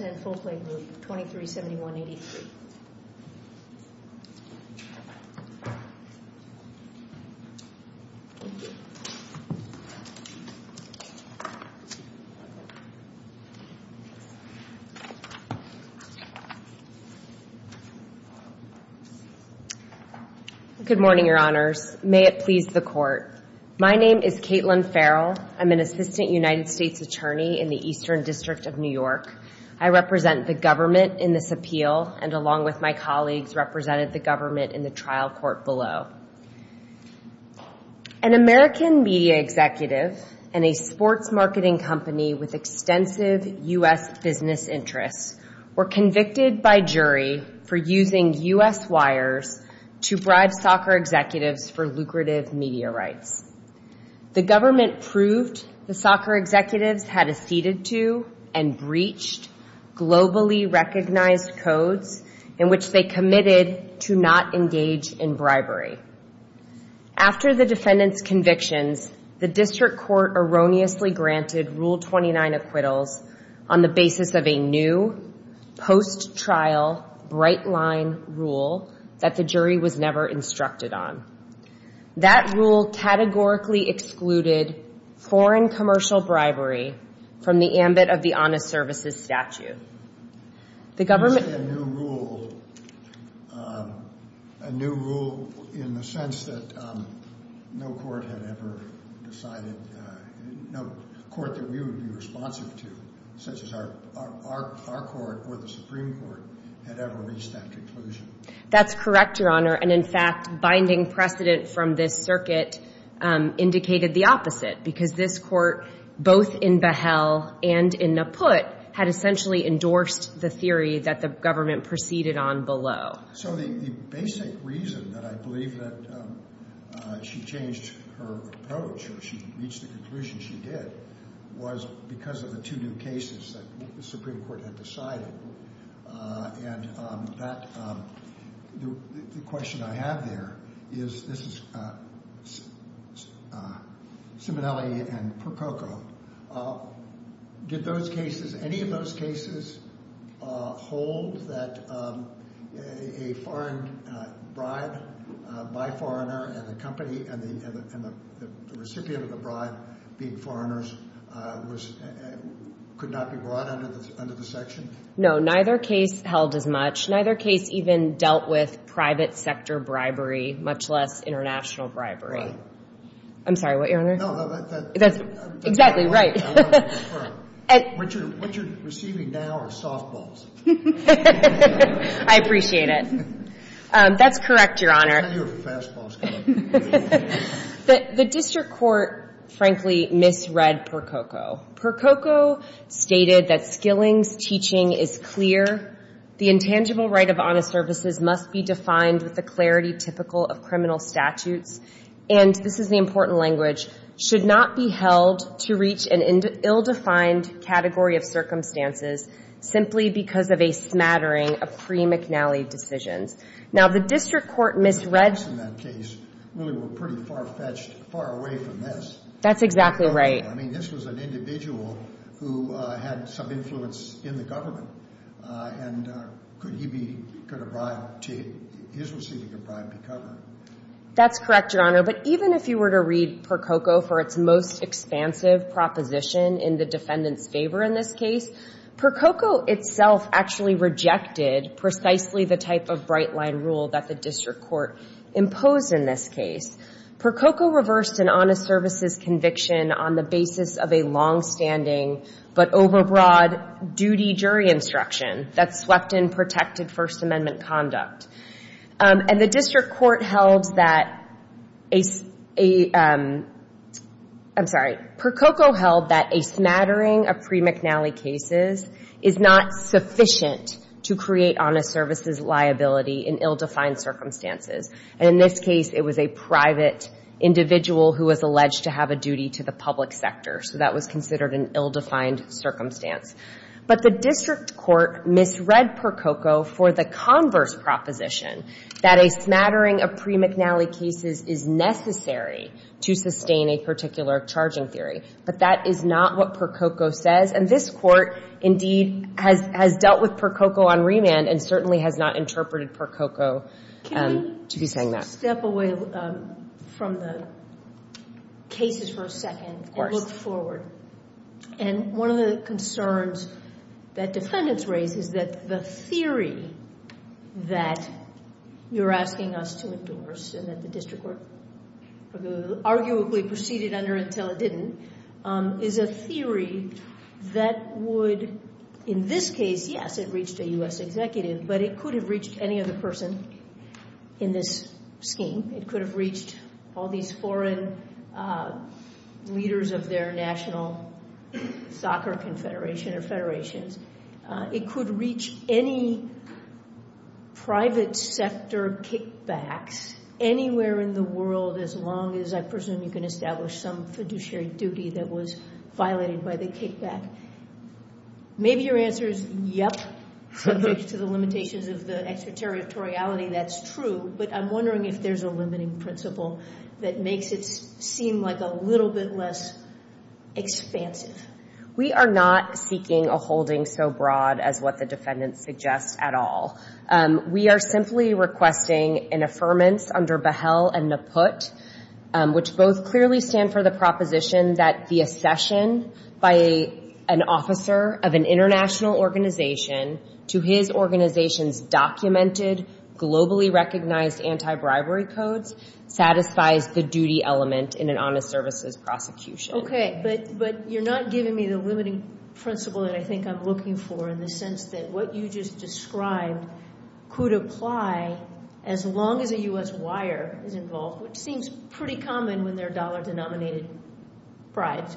and Folklane Group, 2371-83. Good morning, Your Honors. May it please the Court. My name is Caitlin Farrell. I'm an Assistant United States Attorney in the Eastern District of New York. I represent the government in this appeal and, along with my colleagues, represented the government in the trial court below. An American media executive and a sports marketing company with extensive U.S. business interests were convicted by jury for using U.S. wires to bribe soccer executives for lucrative media rights. The government proved the soccer executives had acceded to and breached globally recognized codes in which they committed to not engage in bribery. After the defendants' convictions, the district court erroneously granted Rule 29 acquittals on the basis of a new post-trial bright-line rule that the jury was never instructed on. That rule categorically excluded foreign commercial bribery from the ambit of the Honest Services Statute. That's correct, Your Honor. And, in fact, binding precedent from this circuit indicated the opposite, because this court, both in Behel and in Naput, had essentially endorsed the theory that the government proceeded on below. So the basic reason that I believe that she changed her approach, or she reached the conclusion she did, was because of the two new cases that the Supreme Court had decided. And the question I have there is, this is Simonelli and Prococo. Did those cases, any of those cases, hold that a foreign bribe by a foreigner and the company and the recipient of the bribe being foreigners could not be brought under the section? No, neither case held as much. Neither case even dealt with private sector bribery, much less international bribery. I'm sorry, what, Your Honor? No, that's exactly right. What you're receiving now are softballs. I appreciate it. That's correct, Your Honor. I thought you were for fastballs, correct? The district court, frankly, misread Prococo. Prococo stated that Skilling's teaching is clear, the intangible right of honest services must be defined with the clarity typical of criminal statutes, and this is the important language, should not be held to reach an ill-defined category of circumstances simply because of a smattering of pre-McNally decisions. Now, the district court misread... The defendants in that case really were pretty far-fetched, far away from this. That's exactly right. I mean, this was an individual who had some influence in the government, and could he be, could a bribe to his receiving a bribe be covered? That's correct, Your Honor, but even if you were to read Prococo for its most expansive proposition in the defendant's favor in this case, Prococo itself actually rejected precisely the type of bright-line rule that the district court imposed in this case. Prococo reversed an honest services conviction on the basis of a long-standing but over-broad duty jury instruction that swept in protected First Amendment conduct. And the district court held that a, I'm sorry, Prococo held that a smattering of pre-McNally cases is not sufficient to create honest services liability in ill-defined circumstances. And in this case, it was a private individual who was alleged to have a duty to the public sector, so that was considered an ill-defined circumstance. But the district court misread Prococo for the converse proposition that a smattering of pre-McNally cases is necessary to sustain a particular charging theory. But that is not what Prococo says. And this Court, indeed, has dealt with Prococo on remand and certainly has not interpreted Prococo to be saying that. Step away from the cases for a second. Of course. And look forward. And one of the concerns that defendants raise is that the theory that you're asking us to endorse and that the district court arguably proceeded under until it didn't, is a theory that would, in this case, yes, it reached a U.S. executive, but it could have reached any other person in this scheme. It could have reached all these foreign leaders of their national soccer confederation or federations. It could reach any private sector kickbacks anywhere in the world as long as, I presume, you can establish some fiduciary duty that was violated by the kickback. Maybe your answer is, yep, subject to the limitations of the extraterritoriality, that's true. But I'm wondering if there's a limiting principle that makes it seem like a little bit less expansive. We are not seeking a holding so broad as what the defendants suggest at all. We are simply requesting an affirmance under Behel and Naput, which both clearly stand for the proposition that the accession by an officer of an international organization to his organization's documented, globally recognized anti-bribery codes satisfies the duty element in an honest services prosecution. Okay, but you're not giving me the limiting principle that I think I'm looking for in the sense that what you just described could apply as long as a U.S. wire is involved, which seems pretty common when they're dollar-denominated bribes,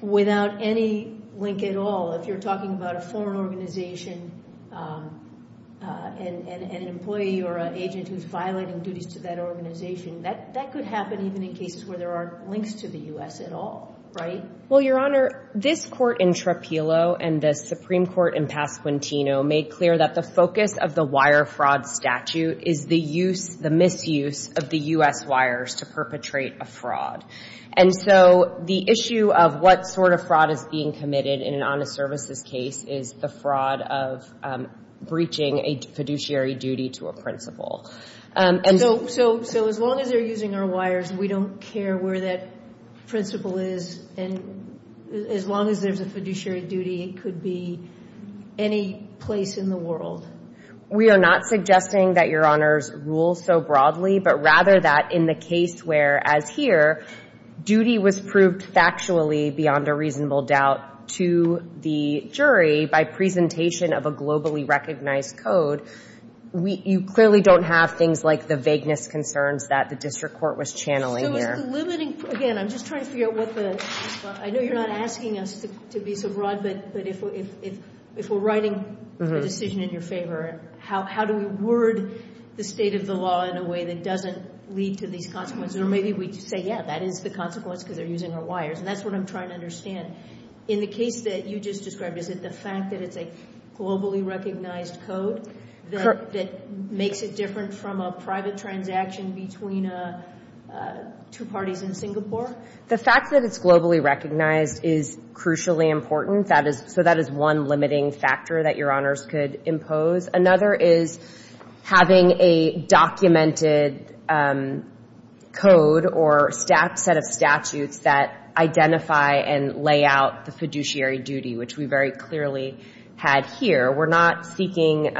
without any link at all. If you're talking about a foreign organization and an employee or an agent who's violating duties to that organization, that could happen even in cases where there aren't links to the U.S. at all, right? Well, Your Honor, this Court in Trapillo and the Supreme Court in Pasquantino made clear that the focus of the wire fraud statute is the misuse of the U.S. wires to perpetrate a fraud. And so the issue of what sort of fraud is being committed in an honest services case is the fraud of breaching a fiduciary duty to a principal. So as long as they're using our wires, we don't care where that principal is? And as long as there's a fiduciary duty, it could be any place in the world? We are not suggesting that Your Honors rule so broadly, but rather that in the case where, as here, duty was proved factually beyond a reasonable doubt to the jury by presentation of a globally recognized code, you clearly don't have things like the vagueness concerns that the district court was channeling here. So is the limiting – again, I'm just trying to figure out what the – I know you're not asking us to be so broad, but if we're writing a decision in your favor, how do we word the state of the law in a way that doesn't lead to these consequences? Or maybe we say, yeah, that is the consequence because they're using our wires. And that's what I'm trying to understand. In the case that you just described, is it the fact that it's a globally recognized code that makes it different from a private transaction between two parties in Singapore? The fact that it's globally recognized is crucially important. So that is one limiting factor that Your Honors could impose. Another is having a documented code or set of statutes that identify and lay out the fiduciary duty, which we very clearly had here. We're not seeking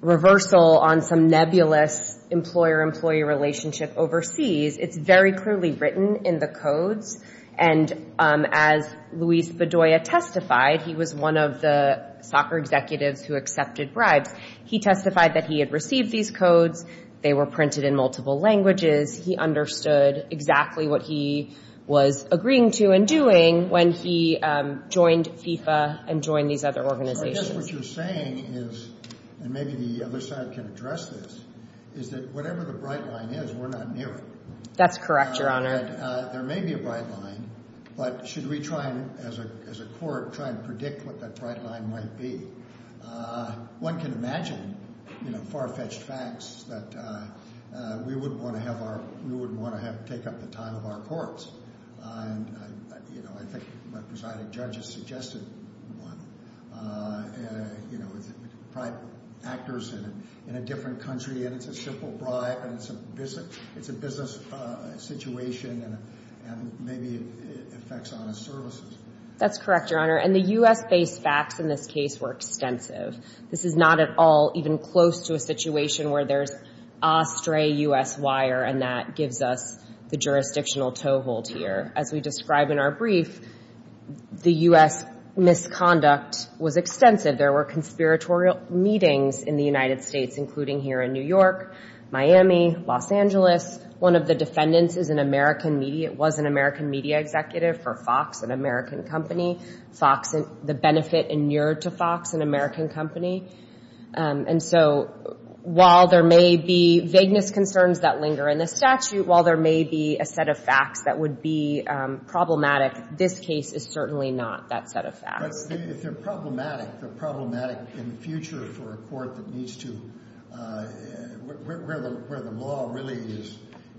reversal on some nebulous employer-employee relationship overseas. It's very clearly written in the codes. And as Luis Bedoya testified, he was one of the soccer executives who accepted bribes. He testified that he had received these codes. They were printed in multiple languages. He understood exactly what he was agreeing to and doing when he joined FIFA and joined these other organizations. So I guess what you're saying is – and maybe the other side can address this – is that whatever the bright line is, we're not near it. That's correct, Your Honor. There may be a bright line, but should we try, as a court, try and predict what that bright line might be? One can imagine far-fetched facts that we wouldn't want to have take up the time of our courts. I think my presiding judge has suggested one. You know, it's private actors in a different country, and it's a simple bribe, and it's a business situation, and maybe it affects honest services. That's correct, Your Honor. And the U.S.-based facts in this case were extensive. This is not at all even close to a situation where there's a stray U.S. wire, and that gives us the jurisdictional toehold here. As we describe in our brief, the U.S. misconduct was extensive. There were conspiratorial meetings in the United States, including here in New York, Miami, Los Angeles. One of the defendants was an American media executive for Fox, an American company. The benefit inured to Fox, an American company. And so while there may be vagueness concerns that linger in the statute, while there may be a set of facts that would be problematic, this case is certainly not that set of facts. But if they're problematic, they're problematic in the future for a court that needs to ‑‑ where the law really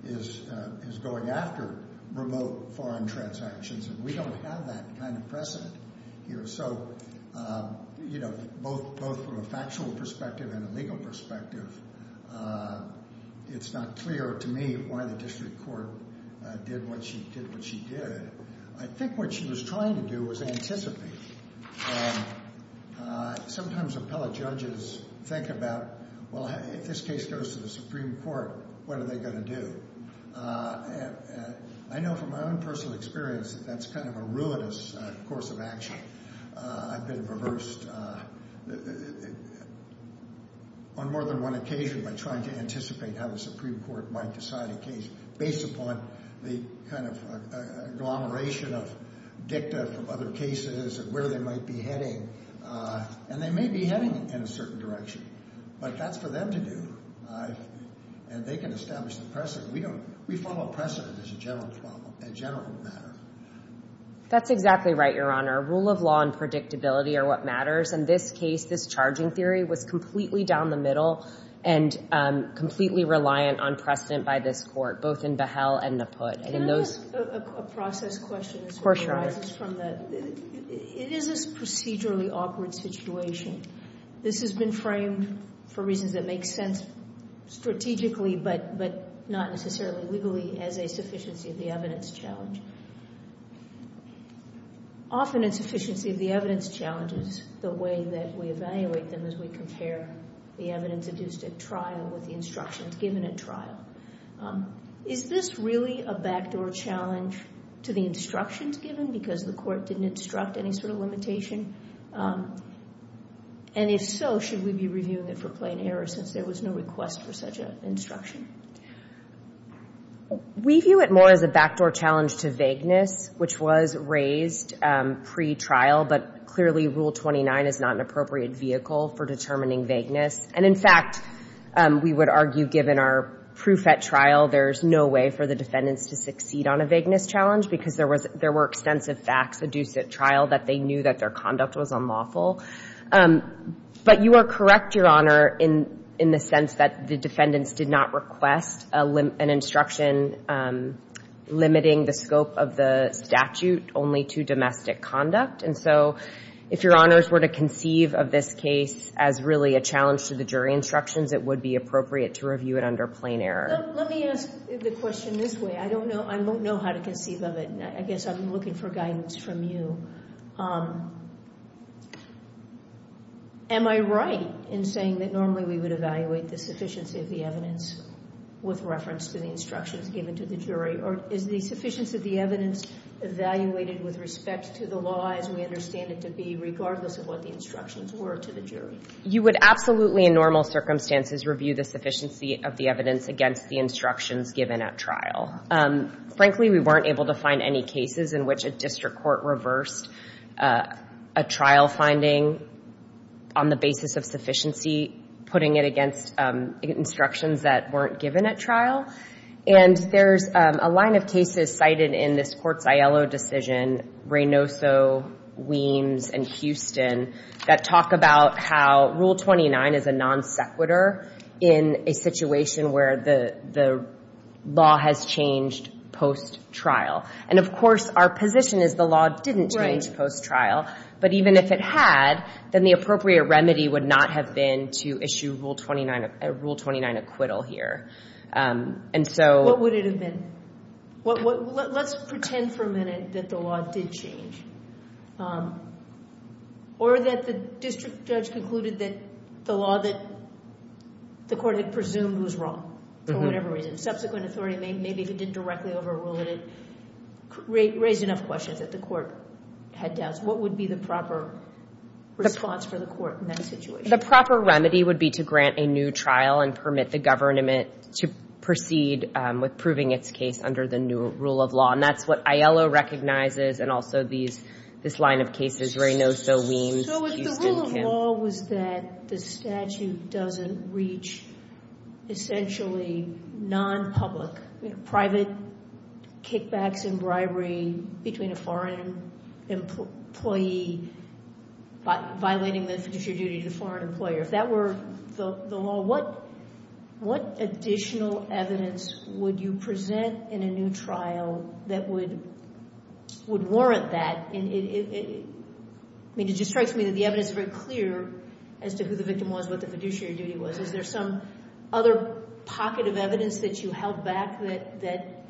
is going after remote foreign transactions, and we don't have that kind of precedent here. So, you know, both from a factual perspective and a legal perspective, it's not clear to me why the district court did what she did. I think what she was trying to do was anticipate. Sometimes appellate judges think about, well, if this case goes to the Supreme Court, what are they going to do? I know from my own personal experience that that's kind of a ruinous course of action. I've been reversed on more than one occasion by trying to anticipate how the Supreme Court might decide a case based upon the kind of agglomeration of dicta from other cases and where they might be heading. And they may be heading in a certain direction, but that's for them to do. And they can establish the precedent. We follow precedent as a general problem, a general matter. That's exactly right, Your Honor. Rule of law and predictability are what matters. In this case, this charging theory was completely down the middle and completely reliant on precedent by this court, both in Behel and Naput. Can I ask a process question? Of course, Your Honor. It is a procedurally awkward situation. This has been framed for reasons that make sense strategically, but not necessarily legally as a sufficiency of the evidence challenge. Often insufficiency of the evidence challenge is the way that we evaluate them as we compare the evidence induced at trial with the instructions given at trial. Is this really a backdoor challenge to the instructions given because the court didn't instruct any sort of limitation? And if so, should we be reviewing it for plain error since there was no request for such an instruction? We view it more as a backdoor challenge to vagueness, which was raised pre-trial, but clearly Rule 29 is not an appropriate vehicle for determining vagueness. And, in fact, we would argue, given our proof at trial, there's no way for the defendants to succeed on a vagueness challenge because there were extensive facts induced at trial that they knew that their conduct was unlawful. But you are correct, Your Honor, in the sense that the defendants did not request an instruction limiting the scope of the statute only to domestic conduct. And so if Your Honors were to conceive of this case as really a challenge to the jury instructions, it would be appropriate to review it under plain error. Let me ask the question this way. I don't know how to conceive of it, and I guess I'm looking for guidance from you. Am I right in saying that normally we would evaluate the sufficiency of the evidence with reference to the instructions given to the jury, or is the sufficiency of the evidence evaluated with respect to the law as we understand it to be, regardless of what the instructions were to the jury? You would absolutely, in normal circumstances, review the sufficiency of the evidence against the instructions given at trial. Frankly, we weren't able to find any cases in which a district court reversed a trial finding on the basis of sufficiency, putting it against instructions that weren't given at trial. And there's a line of cases cited in this Court's ILO decision, Reynoso, Weems, and Houston, that talk about how Rule 29 is a non-sequitur in a situation where the law has changed post-trial. And, of course, our position is the law didn't change post-trial, but even if it had, then the appropriate remedy would not have been to issue Rule 29 acquittal here. What would it have been? Let's pretend for a minute that the law did change. Or that the district judge concluded that the law that the court had presumed was wrong, for whatever reason. Subsequent authority, maybe if it didn't directly overrule it, raised enough questions that the court had doubts. What would be the proper response for the court in that situation? The proper remedy would be to grant a new trial and permit the government to proceed with proving its case under the new rule of law. And that's what ILO recognizes and also this line of cases, Reynoso, Weems, Houston. So if the rule of law was that the statute doesn't reach essentially non-public, private kickbacks and bribery between a foreign employee violating the fiduciary duty to a foreign employer, if that were the law, what additional evidence would you present in a new trial that would warrant that? I mean, it just strikes me that the evidence is very clear as to who the victim was, what the fiduciary duty was. Is there some other pocket of evidence that you held back that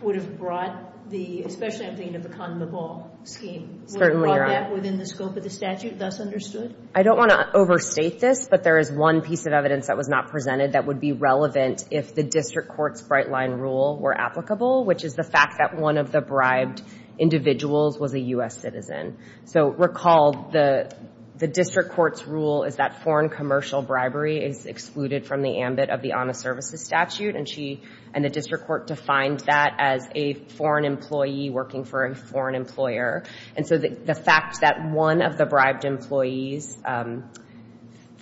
would have brought the, especially I'm thinking of the condom of all scheme, would have brought that within the scope of the statute, thus understood? I don't want to overstate this, but there is one piece of evidence that was not presented that would be relevant if the district court's bright line rule were applicable, which is the fact that one of the bribed individuals was a U.S. citizen. So recall the district court's rule is that foreign commercial bribery is excluded from the ambit of the honest services statute. And the district court defined that as a foreign employee working for a foreign employer. And so the fact that one of the bribed employees,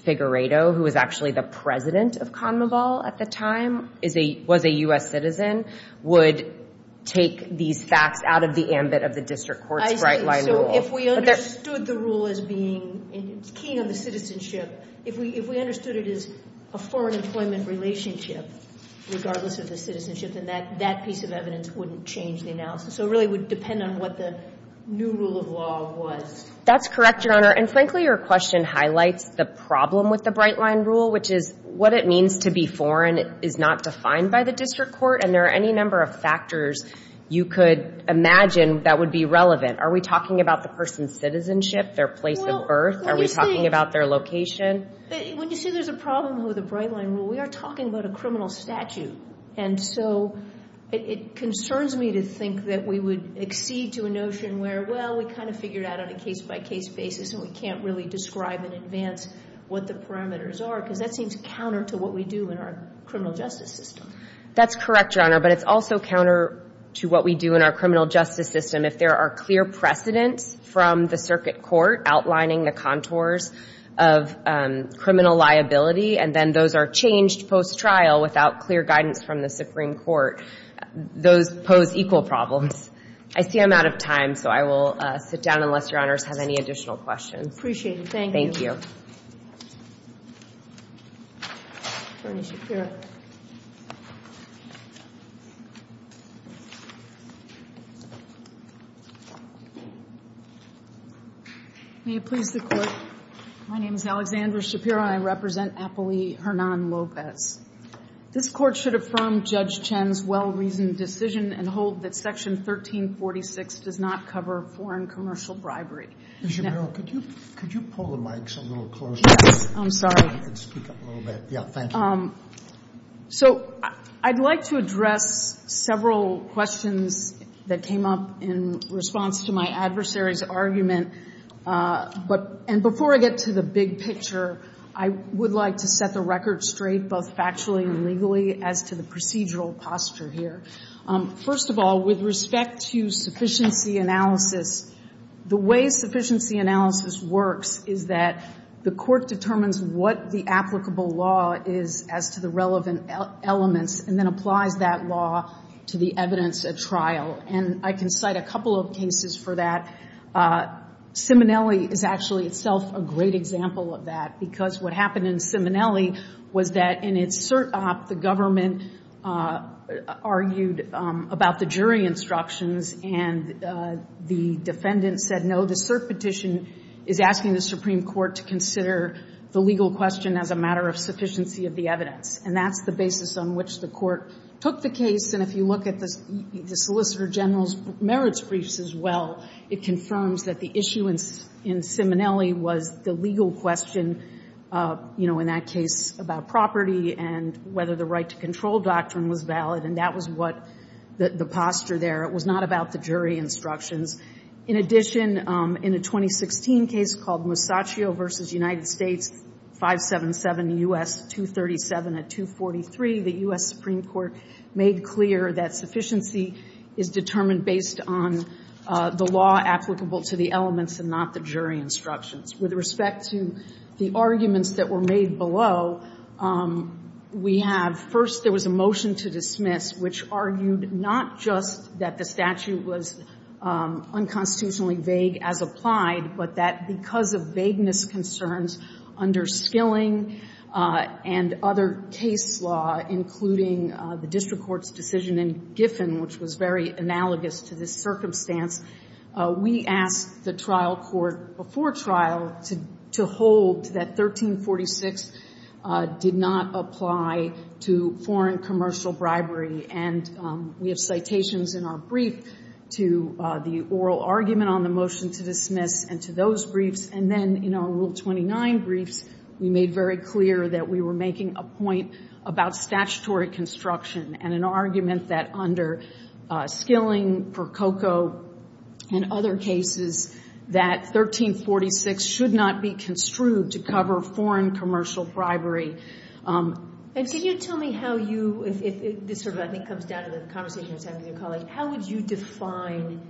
Figueredo, who was actually the president of condom of all at the time, was a U.S. citizen, would take these facts out of the ambit of the district court's bright line rule. So if we understood the rule as being keen on the citizenship, if we understood it as a foreign employment relationship regardless of the citizenship, then that piece of evidence wouldn't change the analysis. So it really would depend on what the new rule of law was. That's correct, Your Honor. And frankly, your question highlights the problem with the bright line rule, which is what it means to be foreign is not defined by the district court. And there are any number of factors you could imagine that would be relevant. Are we talking about the person's citizenship, their place of birth? Are we talking about their location? When you say there's a problem with the bright line rule, we are talking about a criminal statute. And so it concerns me to think that we would accede to a notion where, well, we kind of figured out on a case-by-case basis and we can't really describe in advance what the parameters are because that seems counter to what we do in our criminal justice system. That's correct, Your Honor, but it's also counter to what we do in our criminal justice system if there are clear precedents from the circuit court outlining the contours of criminal liability and then those are changed post-trial without clear guidance from the Supreme Court. Those pose equal problems. I see I'm out of time, so I will sit down unless Your Honors have any additional questions. Appreciate it. Thank you. Attorney Shapiro. May it please the Court. My name is Alexandra Shapiro and I represent Apolli Hernan Lopez. This Court should affirm Judge Chen's well-reasoned decision and hold that Section 1346 does not cover foreign commercial bribery. Ms. Shapiro, could you pull the mics a little closer? Yes, I'm sorry. And speak up a little bit. Yeah, thank you. So I'd like to address several questions that came up in response to my adversary's argument. And before I get to the big picture, I would like to set the record straight both factually and legally as to the procedural posture here. First of all, with respect to sufficiency analysis, the way sufficiency analysis works is that the court determines what the applicable law is as to the relevant elements and then applies that law to the evidence at trial. And I can cite a couple of cases for that. Simonelli is actually itself a great example of that because what happened in Simonelli was that in its cert op the government argued about the jury instructions and the defendant said no, the cert petition is asking the Supreme Court to consider the legal question as a matter of sufficiency of the evidence. And that's the basis on which the court took the case. And if you look at the Solicitor General's merits briefs as well, it confirms that the issue in Simonelli was the legal question, you know, in that case about property and whether the right to control doctrine was valid. And that was what the posture there. It was not about the jury instructions. In addition, in a 2016 case called Masaccio v. United States, 577 U.S. 237 at 243, the U.S. Supreme Court made clear that sufficiency is determined based on the law applicable to the elements and not the jury instructions. With respect to the arguments that were made below, we have first there was a motion to dismiss which argued not just that the statute was unconstitutionally vague as applied, but that because of vagueness concerns under Skilling and other case law, including the district court's decision in Giffen, which was very analogous to this circumstance, we asked the trial court before trial to hold that 1346 did not apply to foreign commercial bribery. And we have citations in our brief to the oral argument on the motion to dismiss and to those briefs. And then in our Rule 29 briefs, we made very clear that we were making a point about statutory construction and an argument that under Skilling, Prococo, and other cases, that 1346 should not be construed to cover foreign commercial bribery. And can you tell me how you, if this sort of, I think, comes down to the conversation you were having with your colleague, how would you define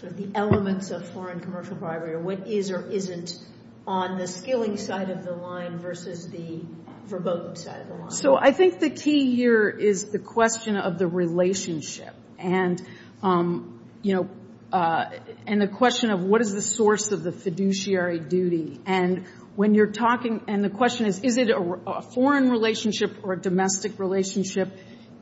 sort of the elements of foreign commercial bribery or what is or isn't on the Skilling side of the line versus the verboten side of the line? So I think the key here is the question of the relationship and, you know, and the question of what is the source of the fiduciary duty. And when you're talking, and the question is, is it a foreign relationship or a domestic relationship?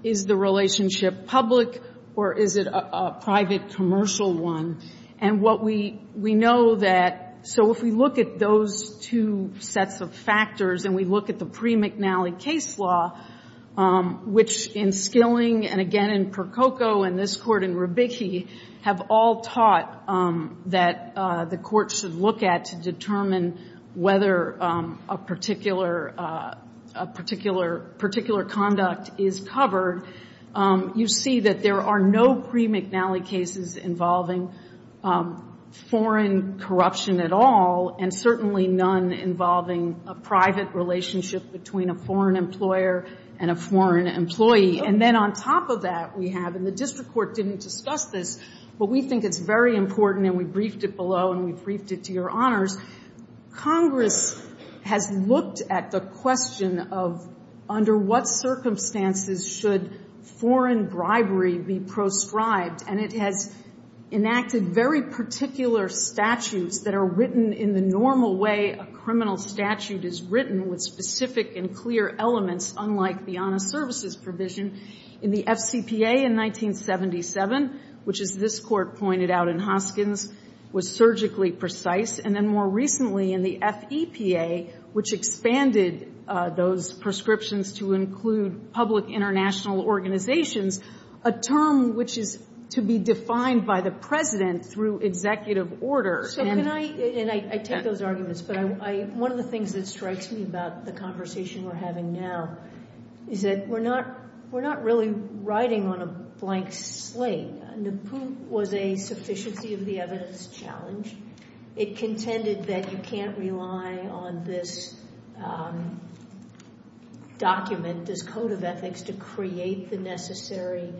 Is the relationship public or is it a private commercial one? And what we know that, so if we look at those two sets of factors and we look at the pre-McNally case law, which in Skilling and again in Prococo and this Court in Rubicchi have all taught that the court should look at to determine whether a particular conduct is covered, you see that there are no pre-McNally cases involving foreign corruption at all and certainly none involving a private relationship between a foreign employer and a foreign employee. And then on top of that we have, and the district court didn't discuss this, but we think it's very important and we briefed it below and we briefed it to your honors, Congress has looked at the question of under what circumstances should foreign bribery be proscribed and it has enacted very particular statutes that are written in the normal way a criminal statute is written with specific and clear elements unlike the honest services provision in the FCPA in 1977, which as this Court pointed out in Hoskins was surgically precise. And then more recently in the FEPA, which expanded those prescriptions to include public international organizations, a term which is to be defined by the President through executive order. So can I, and I take those arguments, but one of the things that strikes me about the conversation we're having now is that we're not really riding on a blank slate. NAPU was a sufficiency of the evidence challenge. It contended that you can't rely on this document, this code of ethics to create the necessary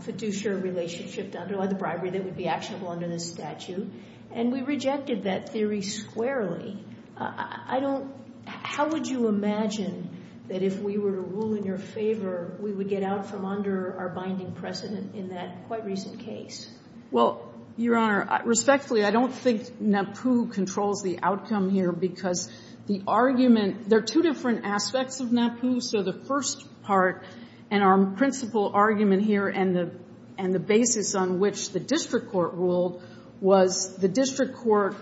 fiduciary relationship done by the bribery that would be actionable under this statute. And we rejected that theory squarely. I don't, how would you imagine that if we were to rule in your favor, we would get out from under our binding precedent in that quite recent case? Well, Your Honor, respectfully, I don't think NAPU controls the outcome here because the argument, there are two different aspects of NAPU. So the first part and our principal argument here and the basis on which the district court ruled was the district court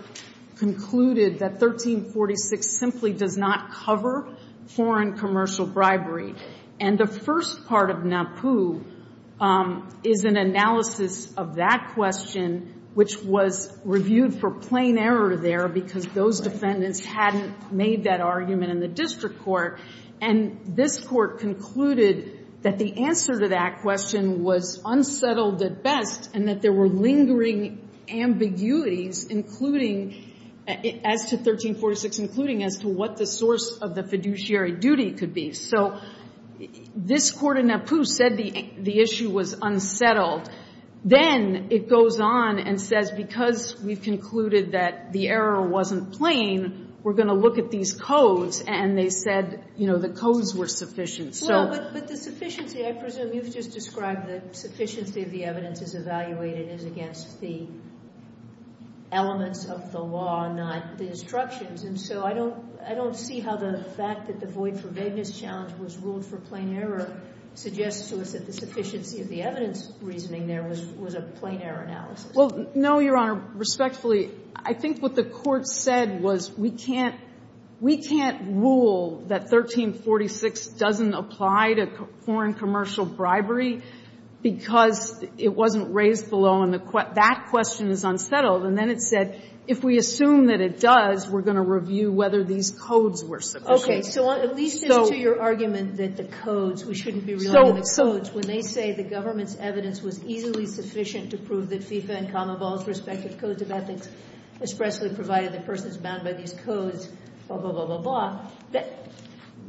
concluded that 1346 simply does not cover foreign commercial bribery. And the first part of NAPU is an analysis of that question, which was reviewed for plain error there because those defendants hadn't made that argument in the district court. And this court concluded that the answer to that question was unsettled at best and that there were lingering ambiguities including, as to 1346, including as to what the source of the fiduciary duty could be. So this court in NAPU said the issue was unsettled. Then it goes on and says because we've concluded that the error wasn't plain, we're going to look at these codes. And they said the codes were sufficient. But the sufficiency, I presume you've just described the sufficiency of the evidence is evaluated as against the elements of the law, not the instructions. And so I don't see how the fact that the void for vagueness challenge was ruled for plain error suggests to us that the sufficiency of the evidence reasoning there was a plain error analysis. Well, no, Your Honor. Respectfully, I think what the court said was we can't rule that 1346 doesn't apply to foreign commercial bribery because it wasn't raised below. And that question is unsettled. And then it said if we assume that it does, we're going to review whether these codes were sufficient. Okay. So at least as to your argument that the codes, we shouldn't be relying on the codes, when they say the government's evidence was easily sufficient to prove that FIFA and Commonwealth's respective codes of ethics expressly provided the person is bound by these codes, blah, blah, blah, blah, blah,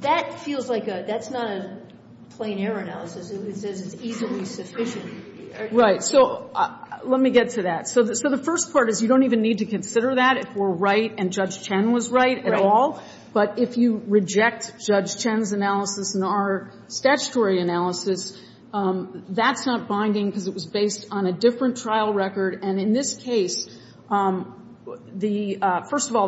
that feels like that's not a plain error analysis. It says it's easily sufficient. Right. So let me get to that. So the first part is you don't even need to consider that if we're right and Judge Chen was right at all. But if you reject Judge Chen's analysis and our statutory analysis, that's not binding because it was based on a different trial record. And in this case, first of all,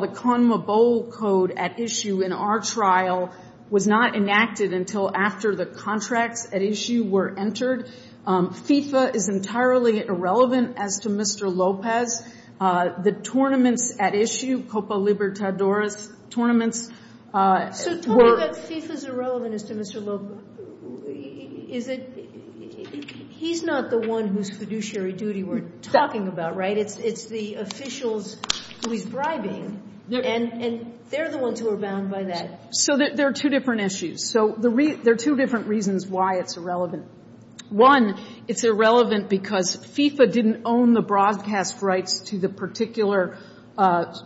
the CONMA bowl code at issue in our trial was not enacted until after the contracts at issue were entered. FIFA is entirely irrelevant as to Mr. Lopez. The tournaments at issue, Copa Libertadores tournaments were. So talking about FIFA's irrelevance to Mr. Lopez, is it, he's not the one whose fiduciary duty we're talking about, right? It's the officials who he's bribing, and they're the ones who are bound by that. So there are two different issues. So there are two different reasons why it's irrelevant. One, it's irrelevant because FIFA didn't own the broadcast rights to the particular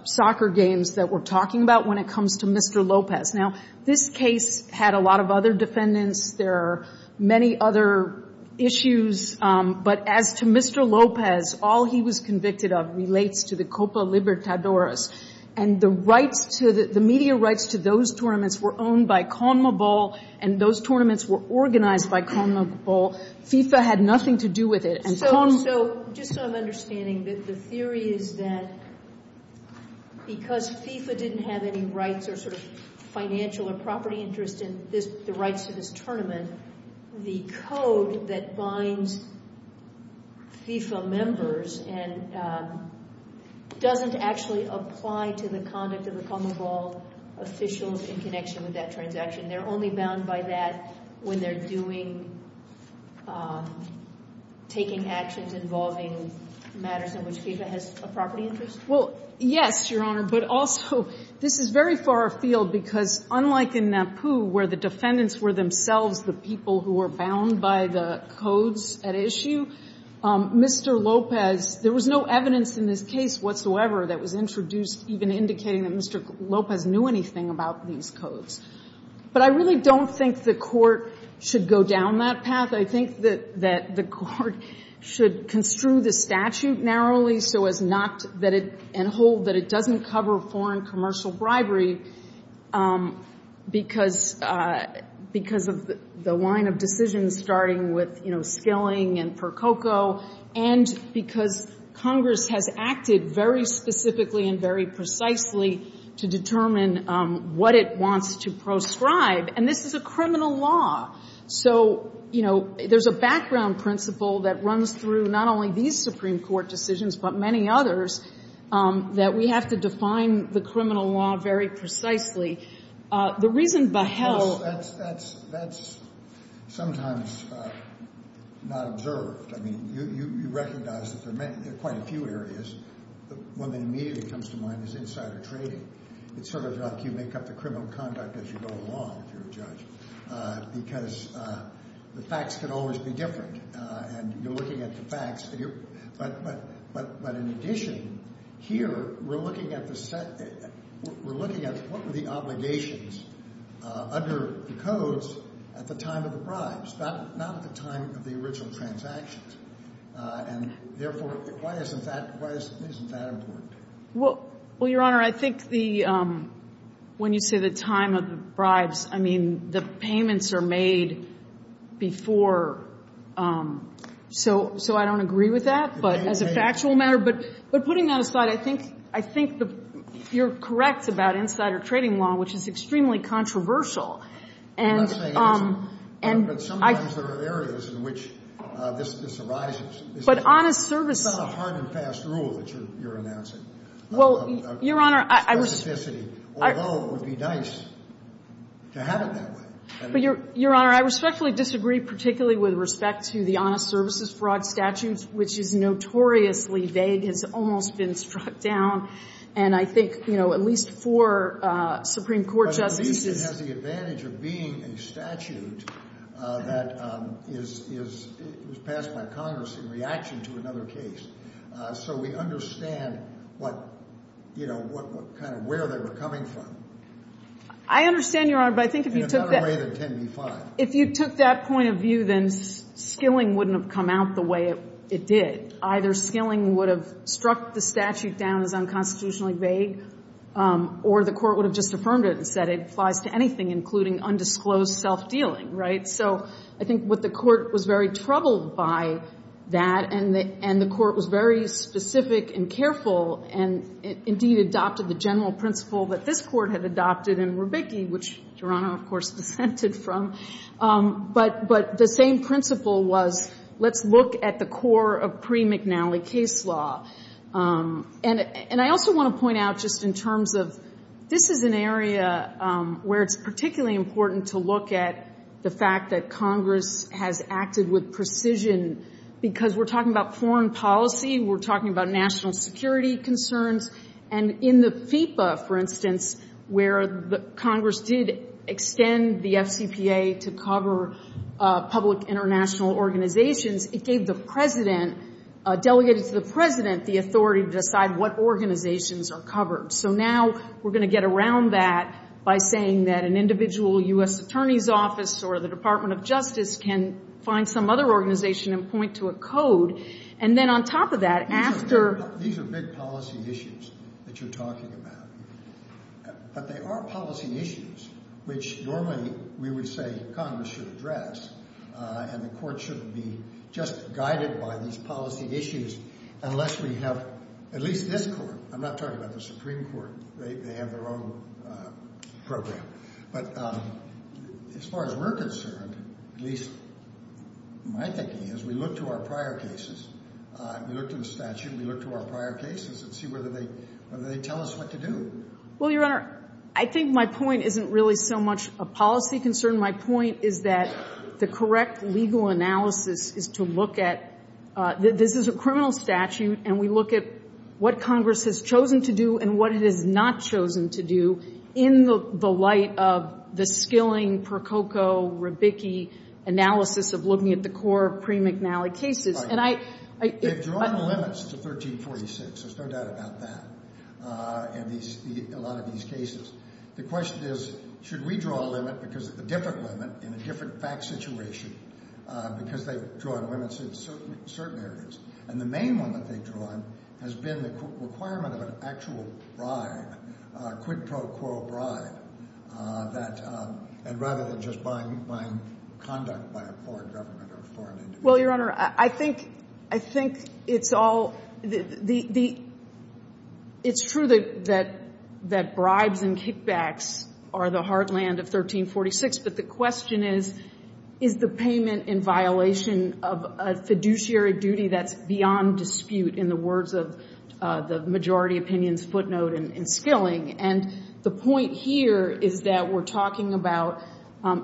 soccer games that we're talking about when it comes to Mr. Lopez. Now, this case had a lot of other defendants. There are many other issues. But as to Mr. Lopez, all he was convicted of relates to the Copa Libertadores. And the media rights to those tournaments were owned by CONMA Bowl, and those tournaments were organized by CONMA Bowl. FIFA had nothing to do with it. So just so I'm understanding, the theory is that because FIFA didn't have any rights or sort of financial or property interest in the rights to this tournament, the code that binds FIFA members doesn't actually apply to the conduct of the CONMA Bowl officials in connection with that transaction. They're only bound by that when they're doing, taking actions involving matters in which FIFA has a property interest? Well, yes, Your Honor. But also, this is very far afield because unlike in NAPU, where the defendants were themselves the people who were bound by the codes at issue, Mr. Lopez, there was no evidence in this case whatsoever that was introduced even indicating that Mr. Lopez knew anything about these codes. But I really don't think the Court should go down that path. I think that the Court should construe the statute narrowly and hold that it doesn't cover foreign commercial bribery because of the line of decisions, starting with Skilling and Percoco, and because Congress has acted very specifically and very precisely to determine what it wants to proscribe. And this is a criminal law. So, you know, there's a background principle that runs through not only these Supreme Court decisions, but many others, that we have to define the criminal law very precisely. The reason beheld— Well, that's sometimes not observed. I mean, you recognize that there are quite a few areas. One that immediately comes to mind is insider trading. It's sort of like you make up the criminal conduct as you go along if you're a judge because the facts can always be different. And you're looking at the facts. But in addition, here we're looking at the set—we're looking at what were the obligations under the codes at the time of the bribes, not at the time of the original transactions. And, therefore, why isn't that important? Well, Your Honor, I think the — when you say the time of the bribes, I mean, the payments are made before. So I don't agree with that, but as a factual matter. But putting that aside, I think you're correct about insider trading law, which is extremely controversial. And I— But sometimes there are areas in which this arises. But honest service— That's a hard and fast rule that you're announcing. Well, Your Honor, I— Of specificity, although it would be nice to have it that way. But, Your Honor, I respectfully disagree, particularly with respect to the honest services fraud statute, which is notoriously vague. It's almost been struck down. And I think, you know, at least four Supreme Court justices— of being a statute that is passed by Congress in reaction to another case. So we understand what, you know, kind of where they were coming from. I understand, Your Honor, but I think if you took that— In a better way than 10b-5. If you took that point of view, then skilling wouldn't have come out the way it did. Either skilling would have struck the statute down as unconstitutionally vague, or the Court would have just affirmed it and said it applies to anything, including undisclosed self-dealing, right? So I think what the Court was very troubled by that, and the Court was very specific and careful and indeed adopted the general principle that this Court had adopted in Rubicchi, which Your Honor, of course, dissented from. But the same principle was, let's look at the core of pre-McNally case law. And I also want to point out just in terms of— this is an area where it's particularly important to look at the fact that Congress has acted with precision, because we're talking about foreign policy, we're talking about national security concerns, and in the FIPA, for instance, where Congress did extend the FCPA to cover public international organizations, it gave the president, delegated to the president, the authority to decide what organizations are covered. So now we're going to get around that by saying that an individual U.S. attorney's office or the Department of Justice can find some other organization and point to a code. And then on top of that, after— These are big policy issues that you're talking about. But they are policy issues which normally we would say Congress should address, and the Court shouldn't be just guided by these policy issues unless we have at least this Court. I'm not talking about the Supreme Court. They have their own program. But as far as we're concerned, at least my thinking is we look to our prior cases. We look to the statute. We look to our prior cases and see whether they tell us what to do. Well, Your Honor, I think my point isn't really so much a policy concern. My point is that the correct legal analysis is to look at—this is a criminal statute, and we look at what Congress has chosen to do and what it has not chosen to do in the light of the skilling, percoco, rebicki analysis of looking at the core of pre-McNally cases. They've drawn limits to 1346. There's no doubt about that in a lot of these cases. The question is, should we draw a limit because it's a different limit in a different fact situation because they've drawn limits in certain areas? And the main one that they've drawn has been the requirement of an actual bribe, quid pro quo bribe, and rather than just buying conduct by a foreign government or a foreign individual. Well, Your Honor, I think it's all—it's true that bribes and kickbacks are the heartland of 1346, but the question is, is the payment in violation of a fiduciary duty that's beyond dispute in the words of the majority opinion's footnote in skilling? And the point here is that we're talking about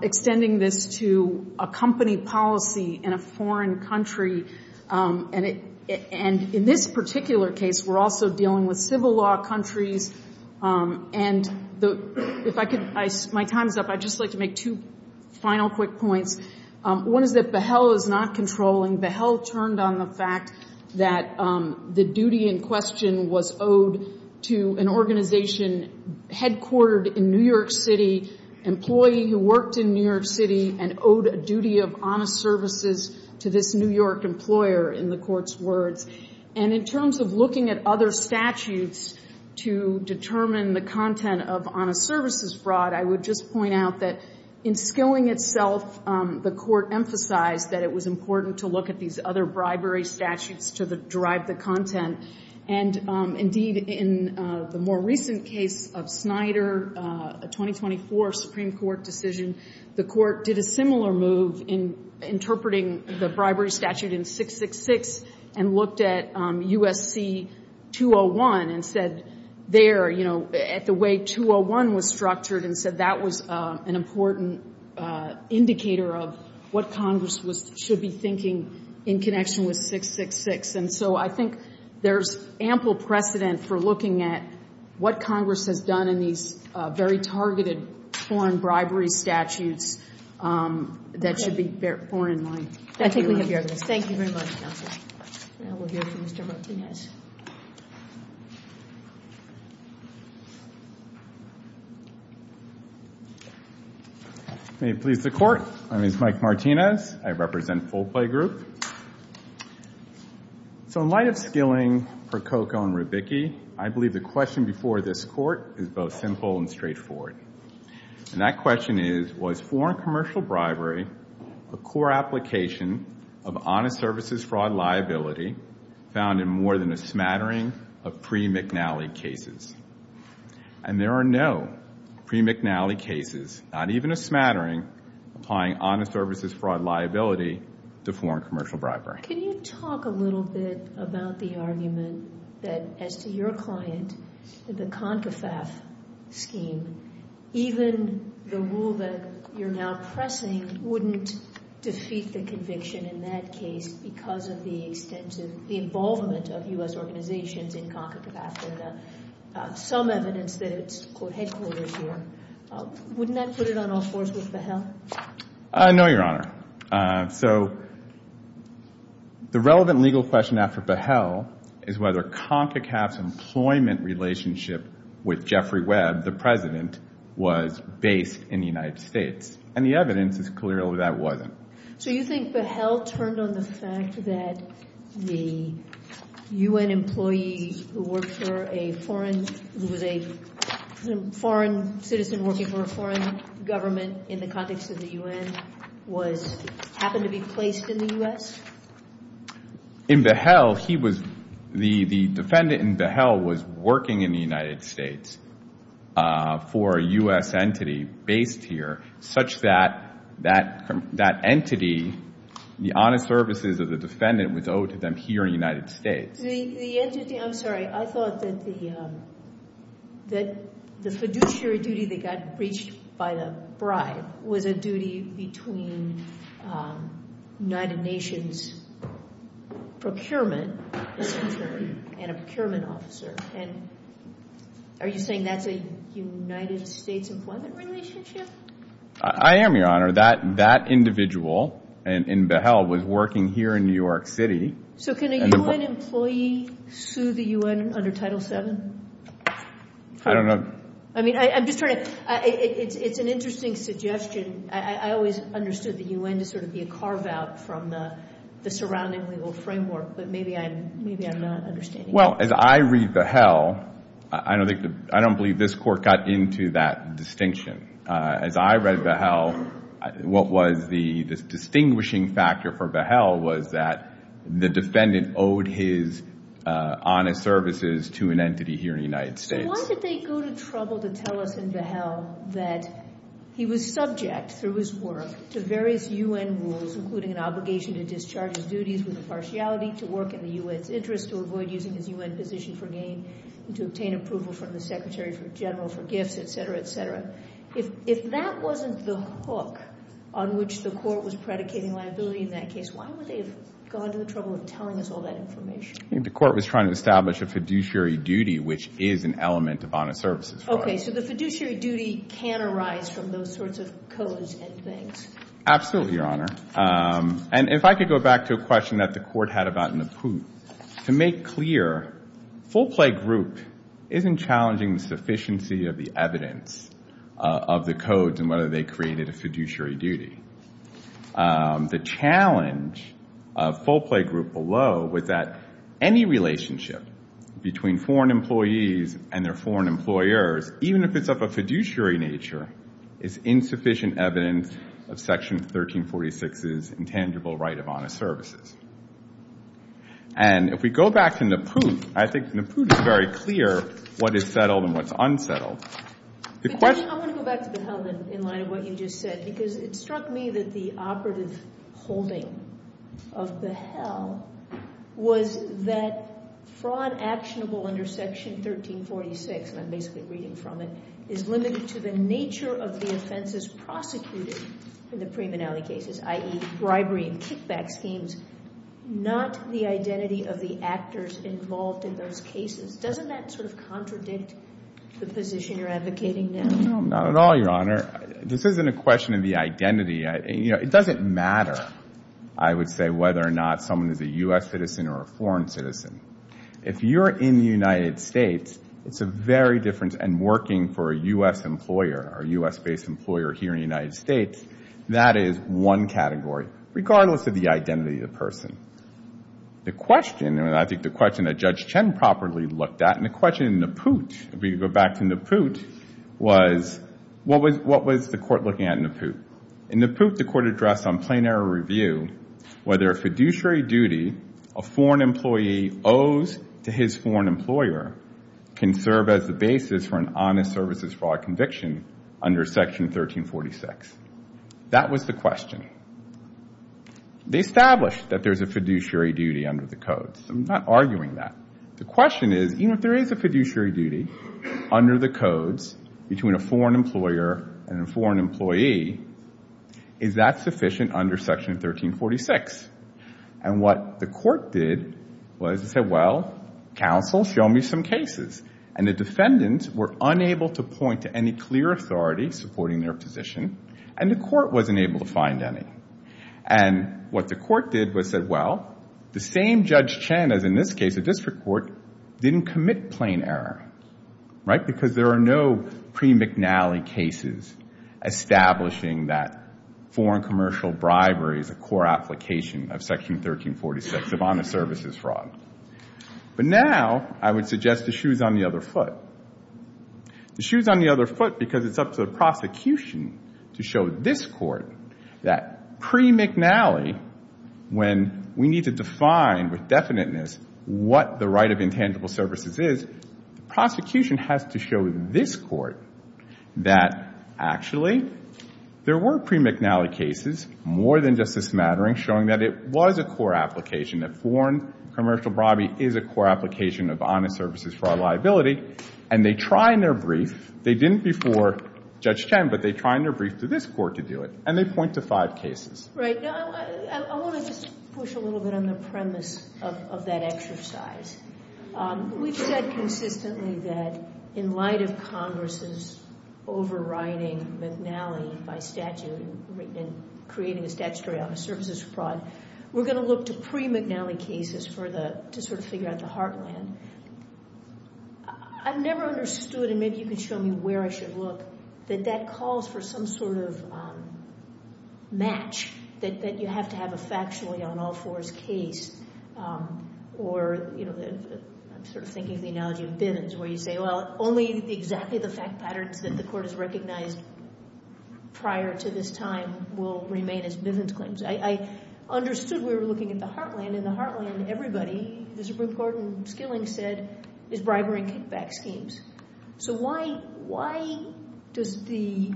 extending this to a company policy in a foreign country, and in this particular case, we're also dealing with civil law countries. And if I could—my time's up. I'd just like to make two final quick points. One is that Behel is not controlling. Behel turned on the fact that the duty in question was owed to an organization headquartered in New York City, employee who worked in New York City, and owed a duty of honest services to this New York employer in the Court's words. And in terms of looking at other statutes to determine the content of honest services fraud, I would just point out that in skilling itself, the Court emphasized that it was important to look at these other bribery statutes to derive the content. And, indeed, in the more recent case of Snyder, a 2024 Supreme Court decision, the Court did a similar move in interpreting the bribery statute in 666 and looked at USC 201 and said, you know, at the way 201 was structured and said that was an important indicator of what Congress should be thinking in connection with 666. And so I think there's ample precedent for looking at what Congress has done in these very targeted foreign bribery statutes that should be foreign in mind. I think we have your address. Thank you very much, Counsel. Now we'll hear from Mr. Martinez. May it please the Court. My name is Mike Martinez. I represent Full Play Group. So in light of skilling, Prococo and Rubicchi, I believe the question before this Court is both simple and straightforward. And that question is, was foreign commercial bribery a core application of honest services fraud liability found in more than a smattering of pre-McNally cases? And there are no pre-McNally cases, not even a smattering, applying honest services fraud liability to foreign commercial bribery. Can you talk a little bit about the argument that as to your client, the CONCFAF scheme, even the rule that you're now pressing wouldn't defeat the conviction in that case because of the extensive, the involvement of U.S. organizations in CONCFAF and some evidence that it's headquarters here. Wouldn't that put it on all fours with Behal? No, Your Honor. So the relevant legal question after Behal is whether CONCFAF's employment relationship with Jeffrey Webb, the President, was based in the United States. And the evidence is clear that that wasn't. So you think Behal turned on the fact that the U.N. employee who worked for a foreign, who was a foreign citizen working for a foreign government in the context of the U.N., happened to be placed in the U.S.? In Behal, he was, the defendant in Behal was working in the United States for a U.S. entity based here, such that that entity, the honest services of the defendant, was owed to them here in the United States. The entity, I'm sorry, I thought that the fiduciary duty that got breached by the bribe was a duty between United Nations procurement and a procurement officer. And are you saying that's a United States employment relationship? I am, Your Honor. That individual in Behal was working here in New York City. So can a U.N. employee sue the U.N. under Title VII? I don't know. I mean, I'm just trying to, it's an interesting suggestion. I always understood the U.N. to sort of be a carve-out from the surrounding legal framework, but maybe I'm not understanding it. Well, as I read Behal, I don't believe this Court got into that distinction. As I read Behal, what was the distinguishing factor for Behal was that the defendant owed his honest services to an entity here in the United States. So why did they go to trouble to tell us in Behal that he was subject, through his work, to various U.N. rules, including an obligation to discharge his duties with impartiality, to work in the U.N.'s interest, to avoid using his U.N. position for gain, to obtain approval from the Secretary General for gifts, et cetera, et cetera. If that wasn't the hook on which the Court was predicating liability in that case, why would they have gone to the trouble of telling us all that information? I think the Court was trying to establish a fiduciary duty, which is an element of honest services. Okay. So the fiduciary duty can arise from those sorts of codes and things. Absolutely, Your Honor. And if I could go back to a question that the Court had about Naput. To make clear, full play group isn't challenging the sufficiency of the evidence of the codes and whether they created a fiduciary duty. The challenge of full play group below was that any relationship between foreign employees and their foreign employers, even if it's of a fiduciary nature, is insufficient evidence of Section 1346's intangible right of honest services. And if we go back to Naput, I think Naput is very clear what is settled and what's unsettled. I want to go back to Behel, then, in light of what you just said, because it struck me that the operative holding of Behel was that fraud actionable under Section 1346, and I'm basically reading from it, is limited to the nature of the offenses prosecuted in the premonality cases, i.e., bribery and kickback schemes, not the identity of the actors involved in those cases. Doesn't that sort of contradict the position you're advocating now? No, not at all, Your Honor. This isn't a question of the identity. It doesn't matter, I would say, whether or not someone is a U.S. citizen or a foreign citizen. If you're in the United States, it's a very different, and working for a U.S. employer or a U.S.-based employer here in the United States, that is one category, regardless of the identity of the person. The question, and I think the question that Judge Chen properly looked at, and the question in Naput, if we go back to Naput, was what was the court looking at in Naput? In Naput, the court addressed on plain error review whether a fiduciary duty, a foreign employee owes to his foreign employer, can serve as the basis for an honest services fraud conviction under Section 1346. That was the question. They established that there's a fiduciary duty under the codes. I'm not arguing that. The question is, even if there is a fiduciary duty under the codes between a foreign employer and a foreign employee, is that sufficient under Section 1346? And what the court did was it said, well, counsel, show me some cases. And the defendants were unable to point to any clear authority supporting their position, and the court wasn't able to find any. And what the court did was said, well, the same Judge Chen as in this case, a district court, didn't commit plain error, right, because there are no pre-McNally cases establishing that foreign commercial bribery is a core application of Section 1346 of honest services fraud. But now I would suggest the shoe's on the other foot. The shoe's on the other foot because it's up to the prosecution to show this court that pre-McNally, when we need to define with definiteness what the right of intangible services is, the prosecution has to show this court that actually there were pre-McNally cases, more than Justice Mattering, showing that it was a core application, that foreign commercial bribery is a core application of honest services fraud liability, and they try in their brief, they didn't before Judge Chen, but they try in their brief to this court to do it, and they point to five cases. Right. I want to just push a little bit on the premise of that exercise. We've said consistently that in light of Congress's overriding McNally by statute and creating a statutory honest services fraud, we're going to look to pre-McNally cases to sort of figure out the heartland. I've never understood, and maybe you can show me where I should look, that that calls for some sort of match, that you have to have a factually on all fours case, or I'm sort of thinking of the analogy of Bivens where you say, well, only exactly the fact patterns that the court has recognized prior to this time will remain as Bivens claims. I understood we were looking at the heartland, and the heartland everybody, the Supreme Court and Skilling said, is bribery and kickback schemes. So why does the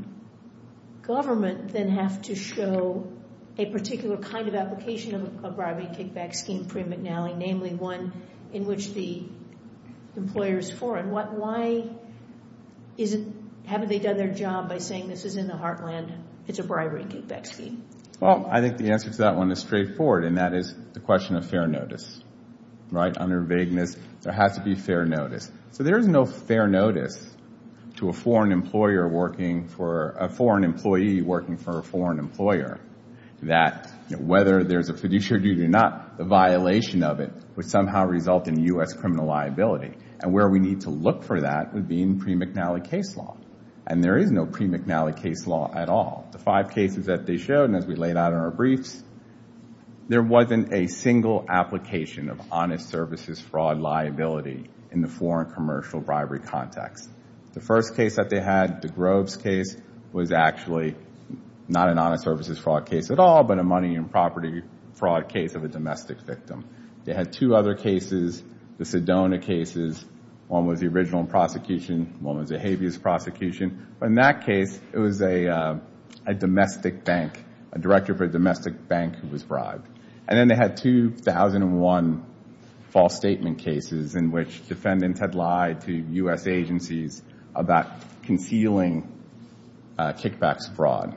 government then have to show a particular kind of application of a bribery and kickback scheme pre-McNally, namely one in which the employer is foreign? Why haven't they done their job by saying this is in the heartland, it's a bribery and kickback scheme? Well, I think the answer to that one is straightforward, and that is the question of fair notice. Under vagueness, there has to be fair notice. So there is no fair notice to a foreign employee working for a foreign employer that whether there's a fiduciary duty or not, the violation of it would somehow result in U.S. criminal liability. And where we need to look for that would be in pre-McNally case law. And there is no pre-McNally case law at all. The five cases that they showed, and as we laid out in our briefs, there wasn't a single application of honest services fraud liability in the foreign commercial bribery context. The first case that they had, the Groves case, was actually not an honest services fraud case at all, but a money and property fraud case of a domestic victim. They had two other cases, the Sedona cases. One was the original prosecution. One was a habeas prosecution. But in that case, it was a domestic bank, a director for a domestic bank who was bribed. And then they had 2001 false statement cases in which defendants had lied to U.S. agencies about concealing kickbacks fraud.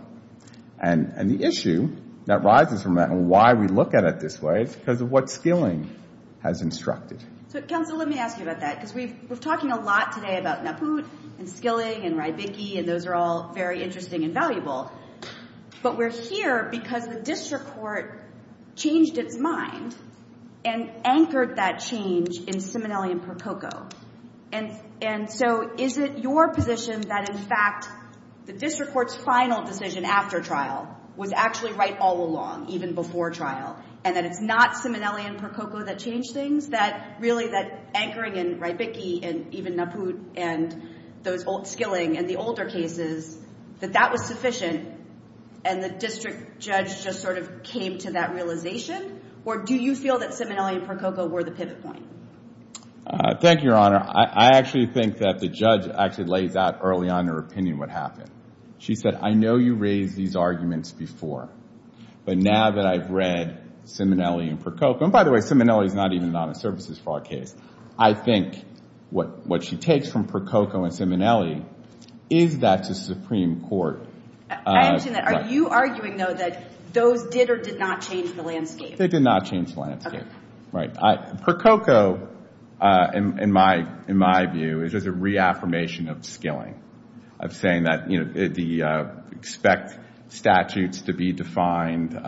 And the issue that rises from that, and why we look at it this way, is because of what Skilling has instructed. So, counsel, let me ask you about that, because we're talking a lot today about Naput and Skilling and Rybicki, and those are all very interesting and valuable. But we're here because the district court changed its mind and anchored that change in Simonelli and Prococo. And so, is it your position that, in fact, the district court's final decision after trial was actually right all along, even before trial, and that it's not Simonelli and Prococo that changed things? Really, that anchoring in Rybicki and even Naput and Skilling and the older cases, that that was sufficient and the district judge just sort of came to that realization? Or do you feel that Simonelli and Prococo were the pivot point? Thank you, Your Honor. I actually think that the judge actually lays out early on in her opinion what happened. She said, I know you raised these arguments before, but now that I've read Simonelli and Prococo, and by the way, Simonelli's not even a non-services fraud case, I think what she takes from Prococo and Simonelli is that the Supreme Court... I understand that. Are you arguing, though, that those did or did not change the landscape? They did not change the landscape. Right. Prococo, in my view, is just a reaffirmation of Skilling, of saying that the expect statutes to be defined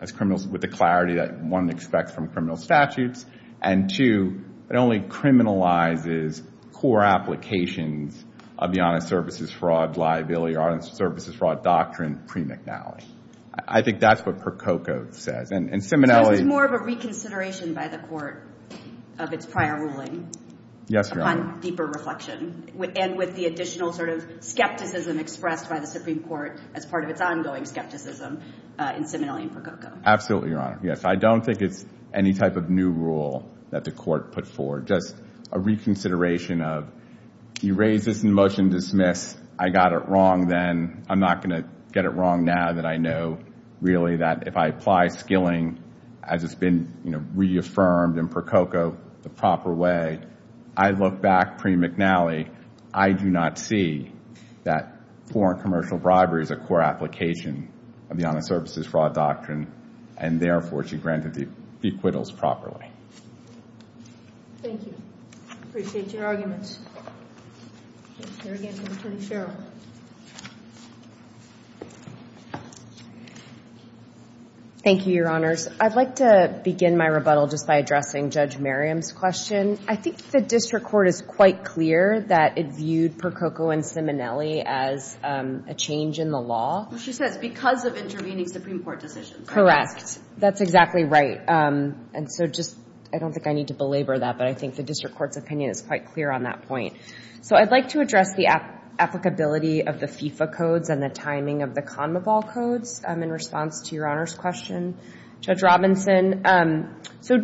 as criminals with the clarity that one expects from criminal statutes, and two, it only criminalizes core applications of the honest services fraud liability or honest services fraud doctrine pre-McNally. I think that's what Prococo says. This is more of a reconsideration by the court of its prior ruling upon deeper reflection and with the additional skepticism expressed by the Supreme Court as part of its ongoing skepticism in Simonelli and Prococo. Absolutely, Your Honor. Yes, I don't think it's any type of new rule that the court put forward, just a reconsideration of, you raise this in motion, dismiss. I got it wrong then. I'm not going to get it wrong now that I know really that if I apply Skilling as it's been reaffirmed in Prococo the proper way, I look back pre-McNally, I do not see that foreign commercial bribery is a core application of the honest services fraud doctrine, and therefore she granted the acquittals properly. Thank you. Appreciate your arguments. Here again is Attorney Sherrill. Thank you, Your Honors. I'd like to begin my rebuttal just by addressing Judge Merriam's question. I think the district court is quite clear that it viewed Prococo and Simonelli as a change in the law. She says because of intervening Supreme Court decisions. Correct. That's exactly right. And so just I don't think I need to belabor that, but I think the district court's opinion is quite clear on that point. So I'd like to address the applicability of the FIFA codes and the timing of the CONMEBOL codes. In response to Your Honor's question, Judge Robinson, so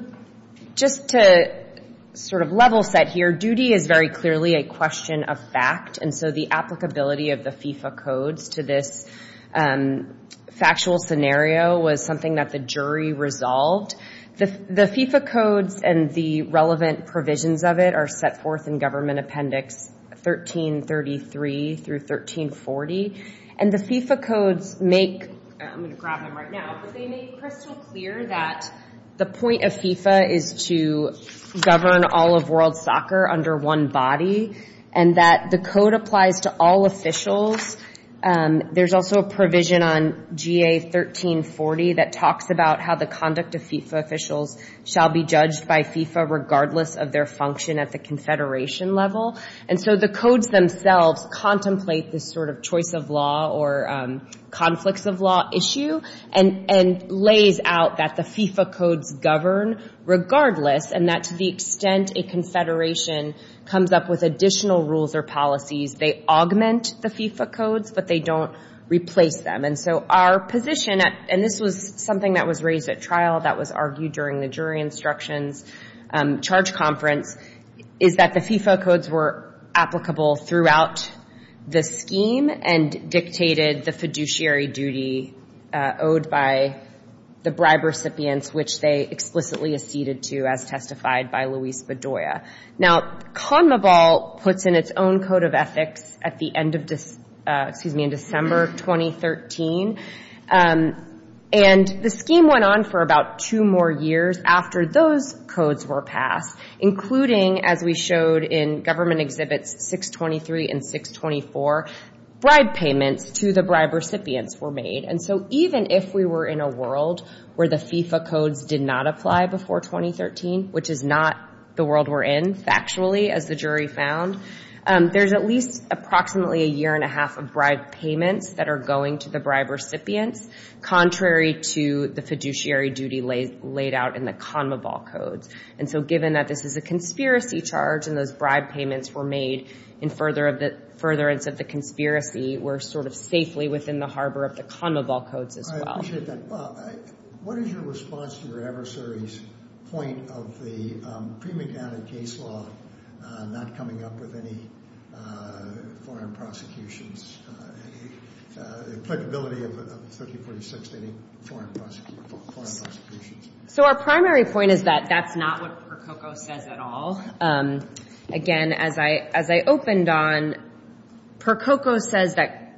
just to sort of level set here, duty is very clearly a question of fact, and so the applicability of the FIFA codes to this factual scenario was something that the jury resolved. The FIFA codes and the relevant provisions of it are set forth in Government Appendix 1333 through 1340, and the FIFA codes make, I'm going to grab them right now, but they make crystal clear that the point of FIFA is to govern all of world soccer under one body and that the code applies to all officials. There's also a provision on GA 1340 that talks about how the conduct of FIFA officials shall be judged by FIFA regardless of their function at the confederation level, and so the codes themselves contemplate this sort of choice of law or conflicts of law issue and lays out that the FIFA codes govern regardless and that to the extent a confederation comes up with additional rules or policies, they augment the FIFA codes, but they don't replace them, and so our position, and this was something that was raised at trial, that was argued during the jury instructions charge conference, is that the FIFA codes were applicable throughout the scheme and dictated the fiduciary duty owed by the bribe recipients, which they explicitly acceded to as testified by Luis Bedoya. Now, CONMEBOL puts in its own code of ethics at the end of December 2013, and the scheme went on for about two more years after those codes were passed, including, as we showed in government exhibits 623 and 624, bribe payments to the bribe recipients were made, and so even if we were in a world where the FIFA codes did not apply before 2013, which is not the world we're in, factually, as the jury found, there's at least approximately a year and a half of bribe payments that are going to the bribe recipients, contrary to the fiduciary duty laid out in the CONMEBOL codes, and so given that this is a conspiracy charge and those bribe payments were made in furtherance of the conspiracy, we're sort of safely within the harbor of the CONMEBOL codes as well. I appreciate that. What is your response to your adversary's point of the pre-McNally case law not coming up with any foreign prosecutions, applicability of 1346 to any foreign prosecutions? So our primary point is that that's not what Percoco says at all. Again, as I opened on, Percoco says that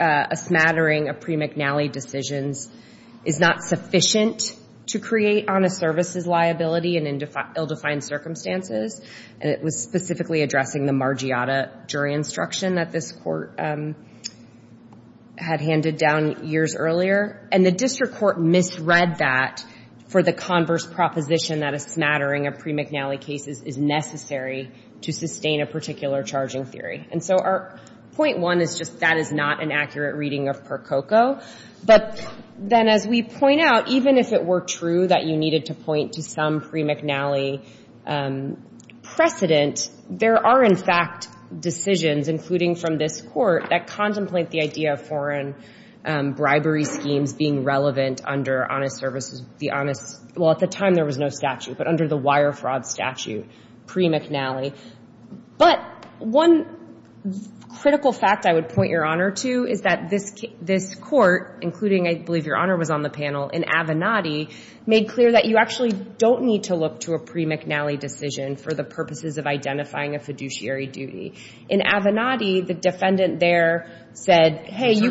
a smattering of pre-McNally decisions is not sufficient to create honest services liability in ill-defined circumstances, and it was specifically addressing the Margiotta jury instruction that this court had handed down years earlier, and the district court misread that for the converse proposition that a smattering of pre-McNally cases is necessary to sustain a particular charging theory, and so our point one is just that is not an accurate reading of Percoco, but then as we point out, even if it were true that you needed to point to some pre-McNally precedent, there are in fact decisions, including from this court, that contemplate the idea of foreign bribery schemes being relevant under honest services. Well, at the time there was no statute, but under the wire fraud statute pre-McNally. But one critical fact I would point your honor to is that this court, including I believe your honor was on the panel, in Avenatti made clear that you actually don't need to look to a pre-McNally decision for the purposes of identifying a fiduciary duty. In Avenatti, the defendant there said, hey, you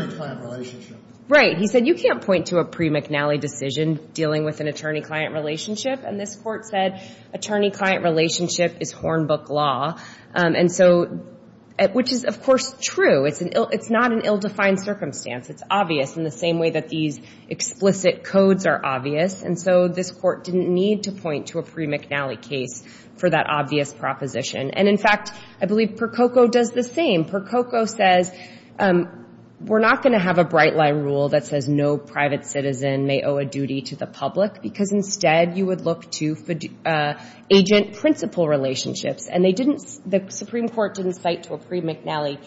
can't point to a pre-McNally decision dealing with an attorney-client relationship, and this court said attorney-client relationship is Hornbook law, which is of course true. It's not an ill-defined circumstance. It's obvious in the same way that these explicit codes are obvious, and so this court didn't need to point to a pre-McNally case for that obvious proposition. And in fact, I believe Percoco does the same. Percoco says we're not going to have a bright line rule that says no private citizen may owe a duty to the public, because instead you would look to agent-principal relationships, and the Supreme Court didn't cite to a pre-McNally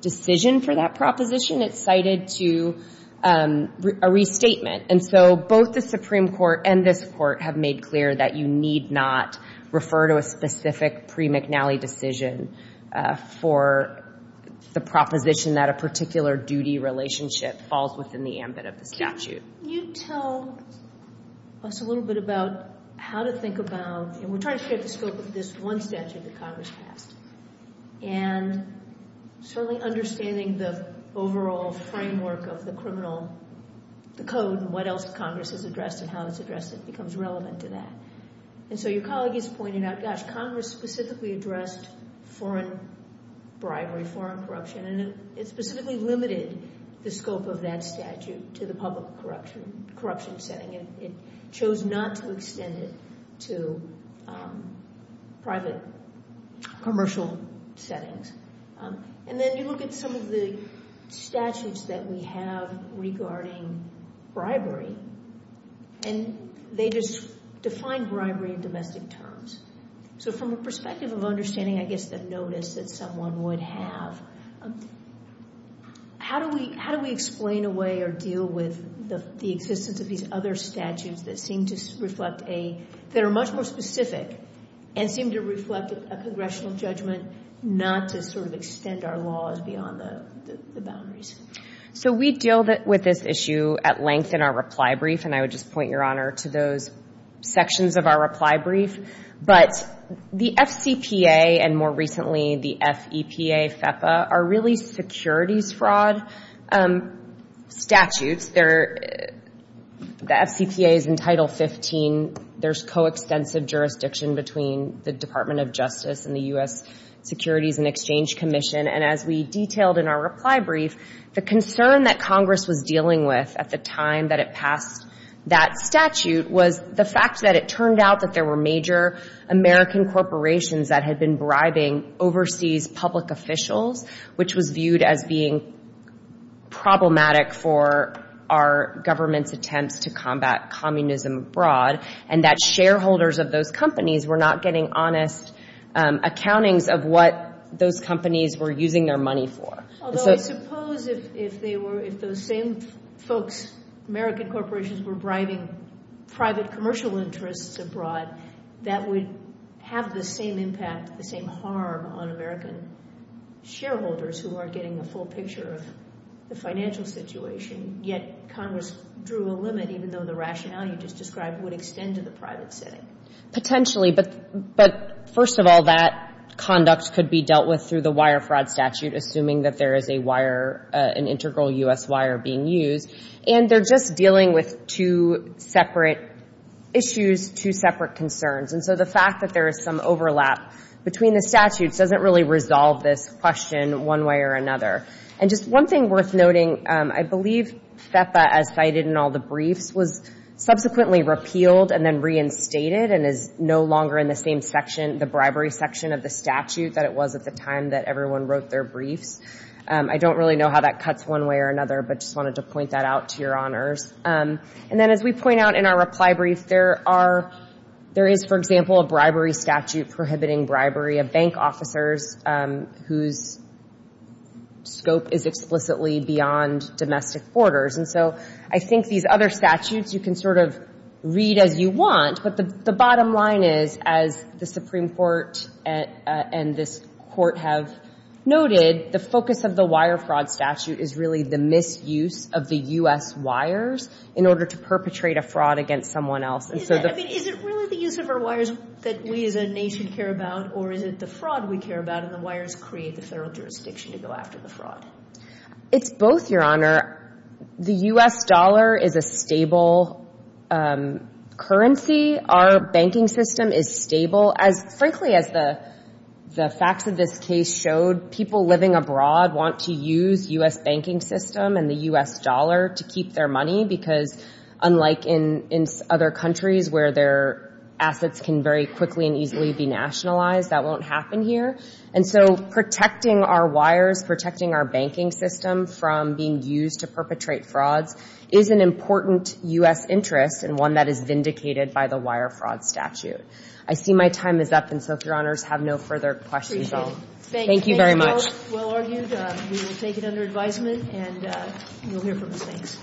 decision for that proposition. It cited to a restatement, and so both the Supreme Court and this court have made clear that you need not refer to a specific pre-McNally decision for the proposition that a particular duty relationship falls within the ambit of the statute. Can you tell us a little bit about how to think about, and we're trying to shape the scope of this one statute that Congress passed, and certainly understanding the overall framework of the criminal code and what else Congress has addressed and how it's addressed that becomes relevant to that. And so your colleague is pointing out, gosh, Congress specifically addressed foreign bribery, foreign corruption, and it specifically limited the scope of that statute to the public corruption setting. It chose not to extend it to private commercial settings. And then you look at some of the statutes that we have regarding bribery, and they just define bribery in domestic terms. So from a perspective of understanding, I guess, it's a notice that someone would have. How do we explain away or deal with the existence of these other statutes that are much more specific and seem to reflect a congressional judgment not to sort of extend our laws beyond the boundaries? So we deal with this issue at length in our reply brief, and I would just point your honor to those sections of our reply brief. But the FCPA, and more recently the FEPA, are really securities fraud statutes. The FCPA is in Title 15. There's coextensive jurisdiction between the Department of Justice and the U.S. Securities and Exchange Commission. And as we detailed in our reply brief, the concern that Congress was dealing with at the time that it passed that statute was the fact that it turned out that there were major American corporations that had been bribing overseas public officials, which was viewed as being problematic for our government's attempts to combat communism abroad, and that shareholders of those companies were not getting honest accountings of what those companies were using their money for. Although I suppose if those same folks, American corporations, were bribing private commercial interests abroad, that would have the same impact, the same harm on American shareholders who aren't getting a full picture of the financial situation, yet Congress drew a limit even though the rationale you just described would extend to the private setting. Potentially, but first of all, that conduct could be dealt with through the wire fraud statute, assuming that there is an integral U.S. wire being used, and they're just dealing with two separate issues, two separate concerns. And so the fact that there is some overlap between the statutes doesn't really resolve this question one way or another. And just one thing worth noting, I believe FEPA, as cited in all the briefs, was subsequently repealed and then reinstated and is no longer in the same section, the bribery section of the statute, that it was at the time that everyone wrote their briefs. I don't really know how that cuts one way or another, but just wanted to point that out to your honors. And then as we point out in our reply brief, there is, for example, a bribery statute prohibiting bribery of bank officers whose scope is explicitly beyond domestic borders. And so I think these other statutes you can sort of read as you want, but the bottom line is, as the Supreme Court and this court have noted, the focus of the wire fraud statute is really the misuse of the U.S. wires in order to perpetrate a fraud against someone else. I mean, is it really the use of our wires that we as a nation care about, or is it the fraud we care about, and the wires create the federal jurisdiction to go after the fraud? It's both, Your Honor. The U.S. dollar is a stable currency. Our banking system is stable. Frankly, as the facts of this case showed, people living abroad want to use U.S. banking system and the U.S. dollar to keep their money because, unlike in other countries where their assets can very quickly and easily be nationalized, that won't happen here. And so protecting our wires, protecting our banking system from being used to perpetrate frauds is an important U.S. interest and one that is vindicated by the wire fraud statute. I see my time is up, and so if Your Honors have no further questions, I'll… Thank you very much. Well argued. We will take it under advisement, and you'll hear from us next.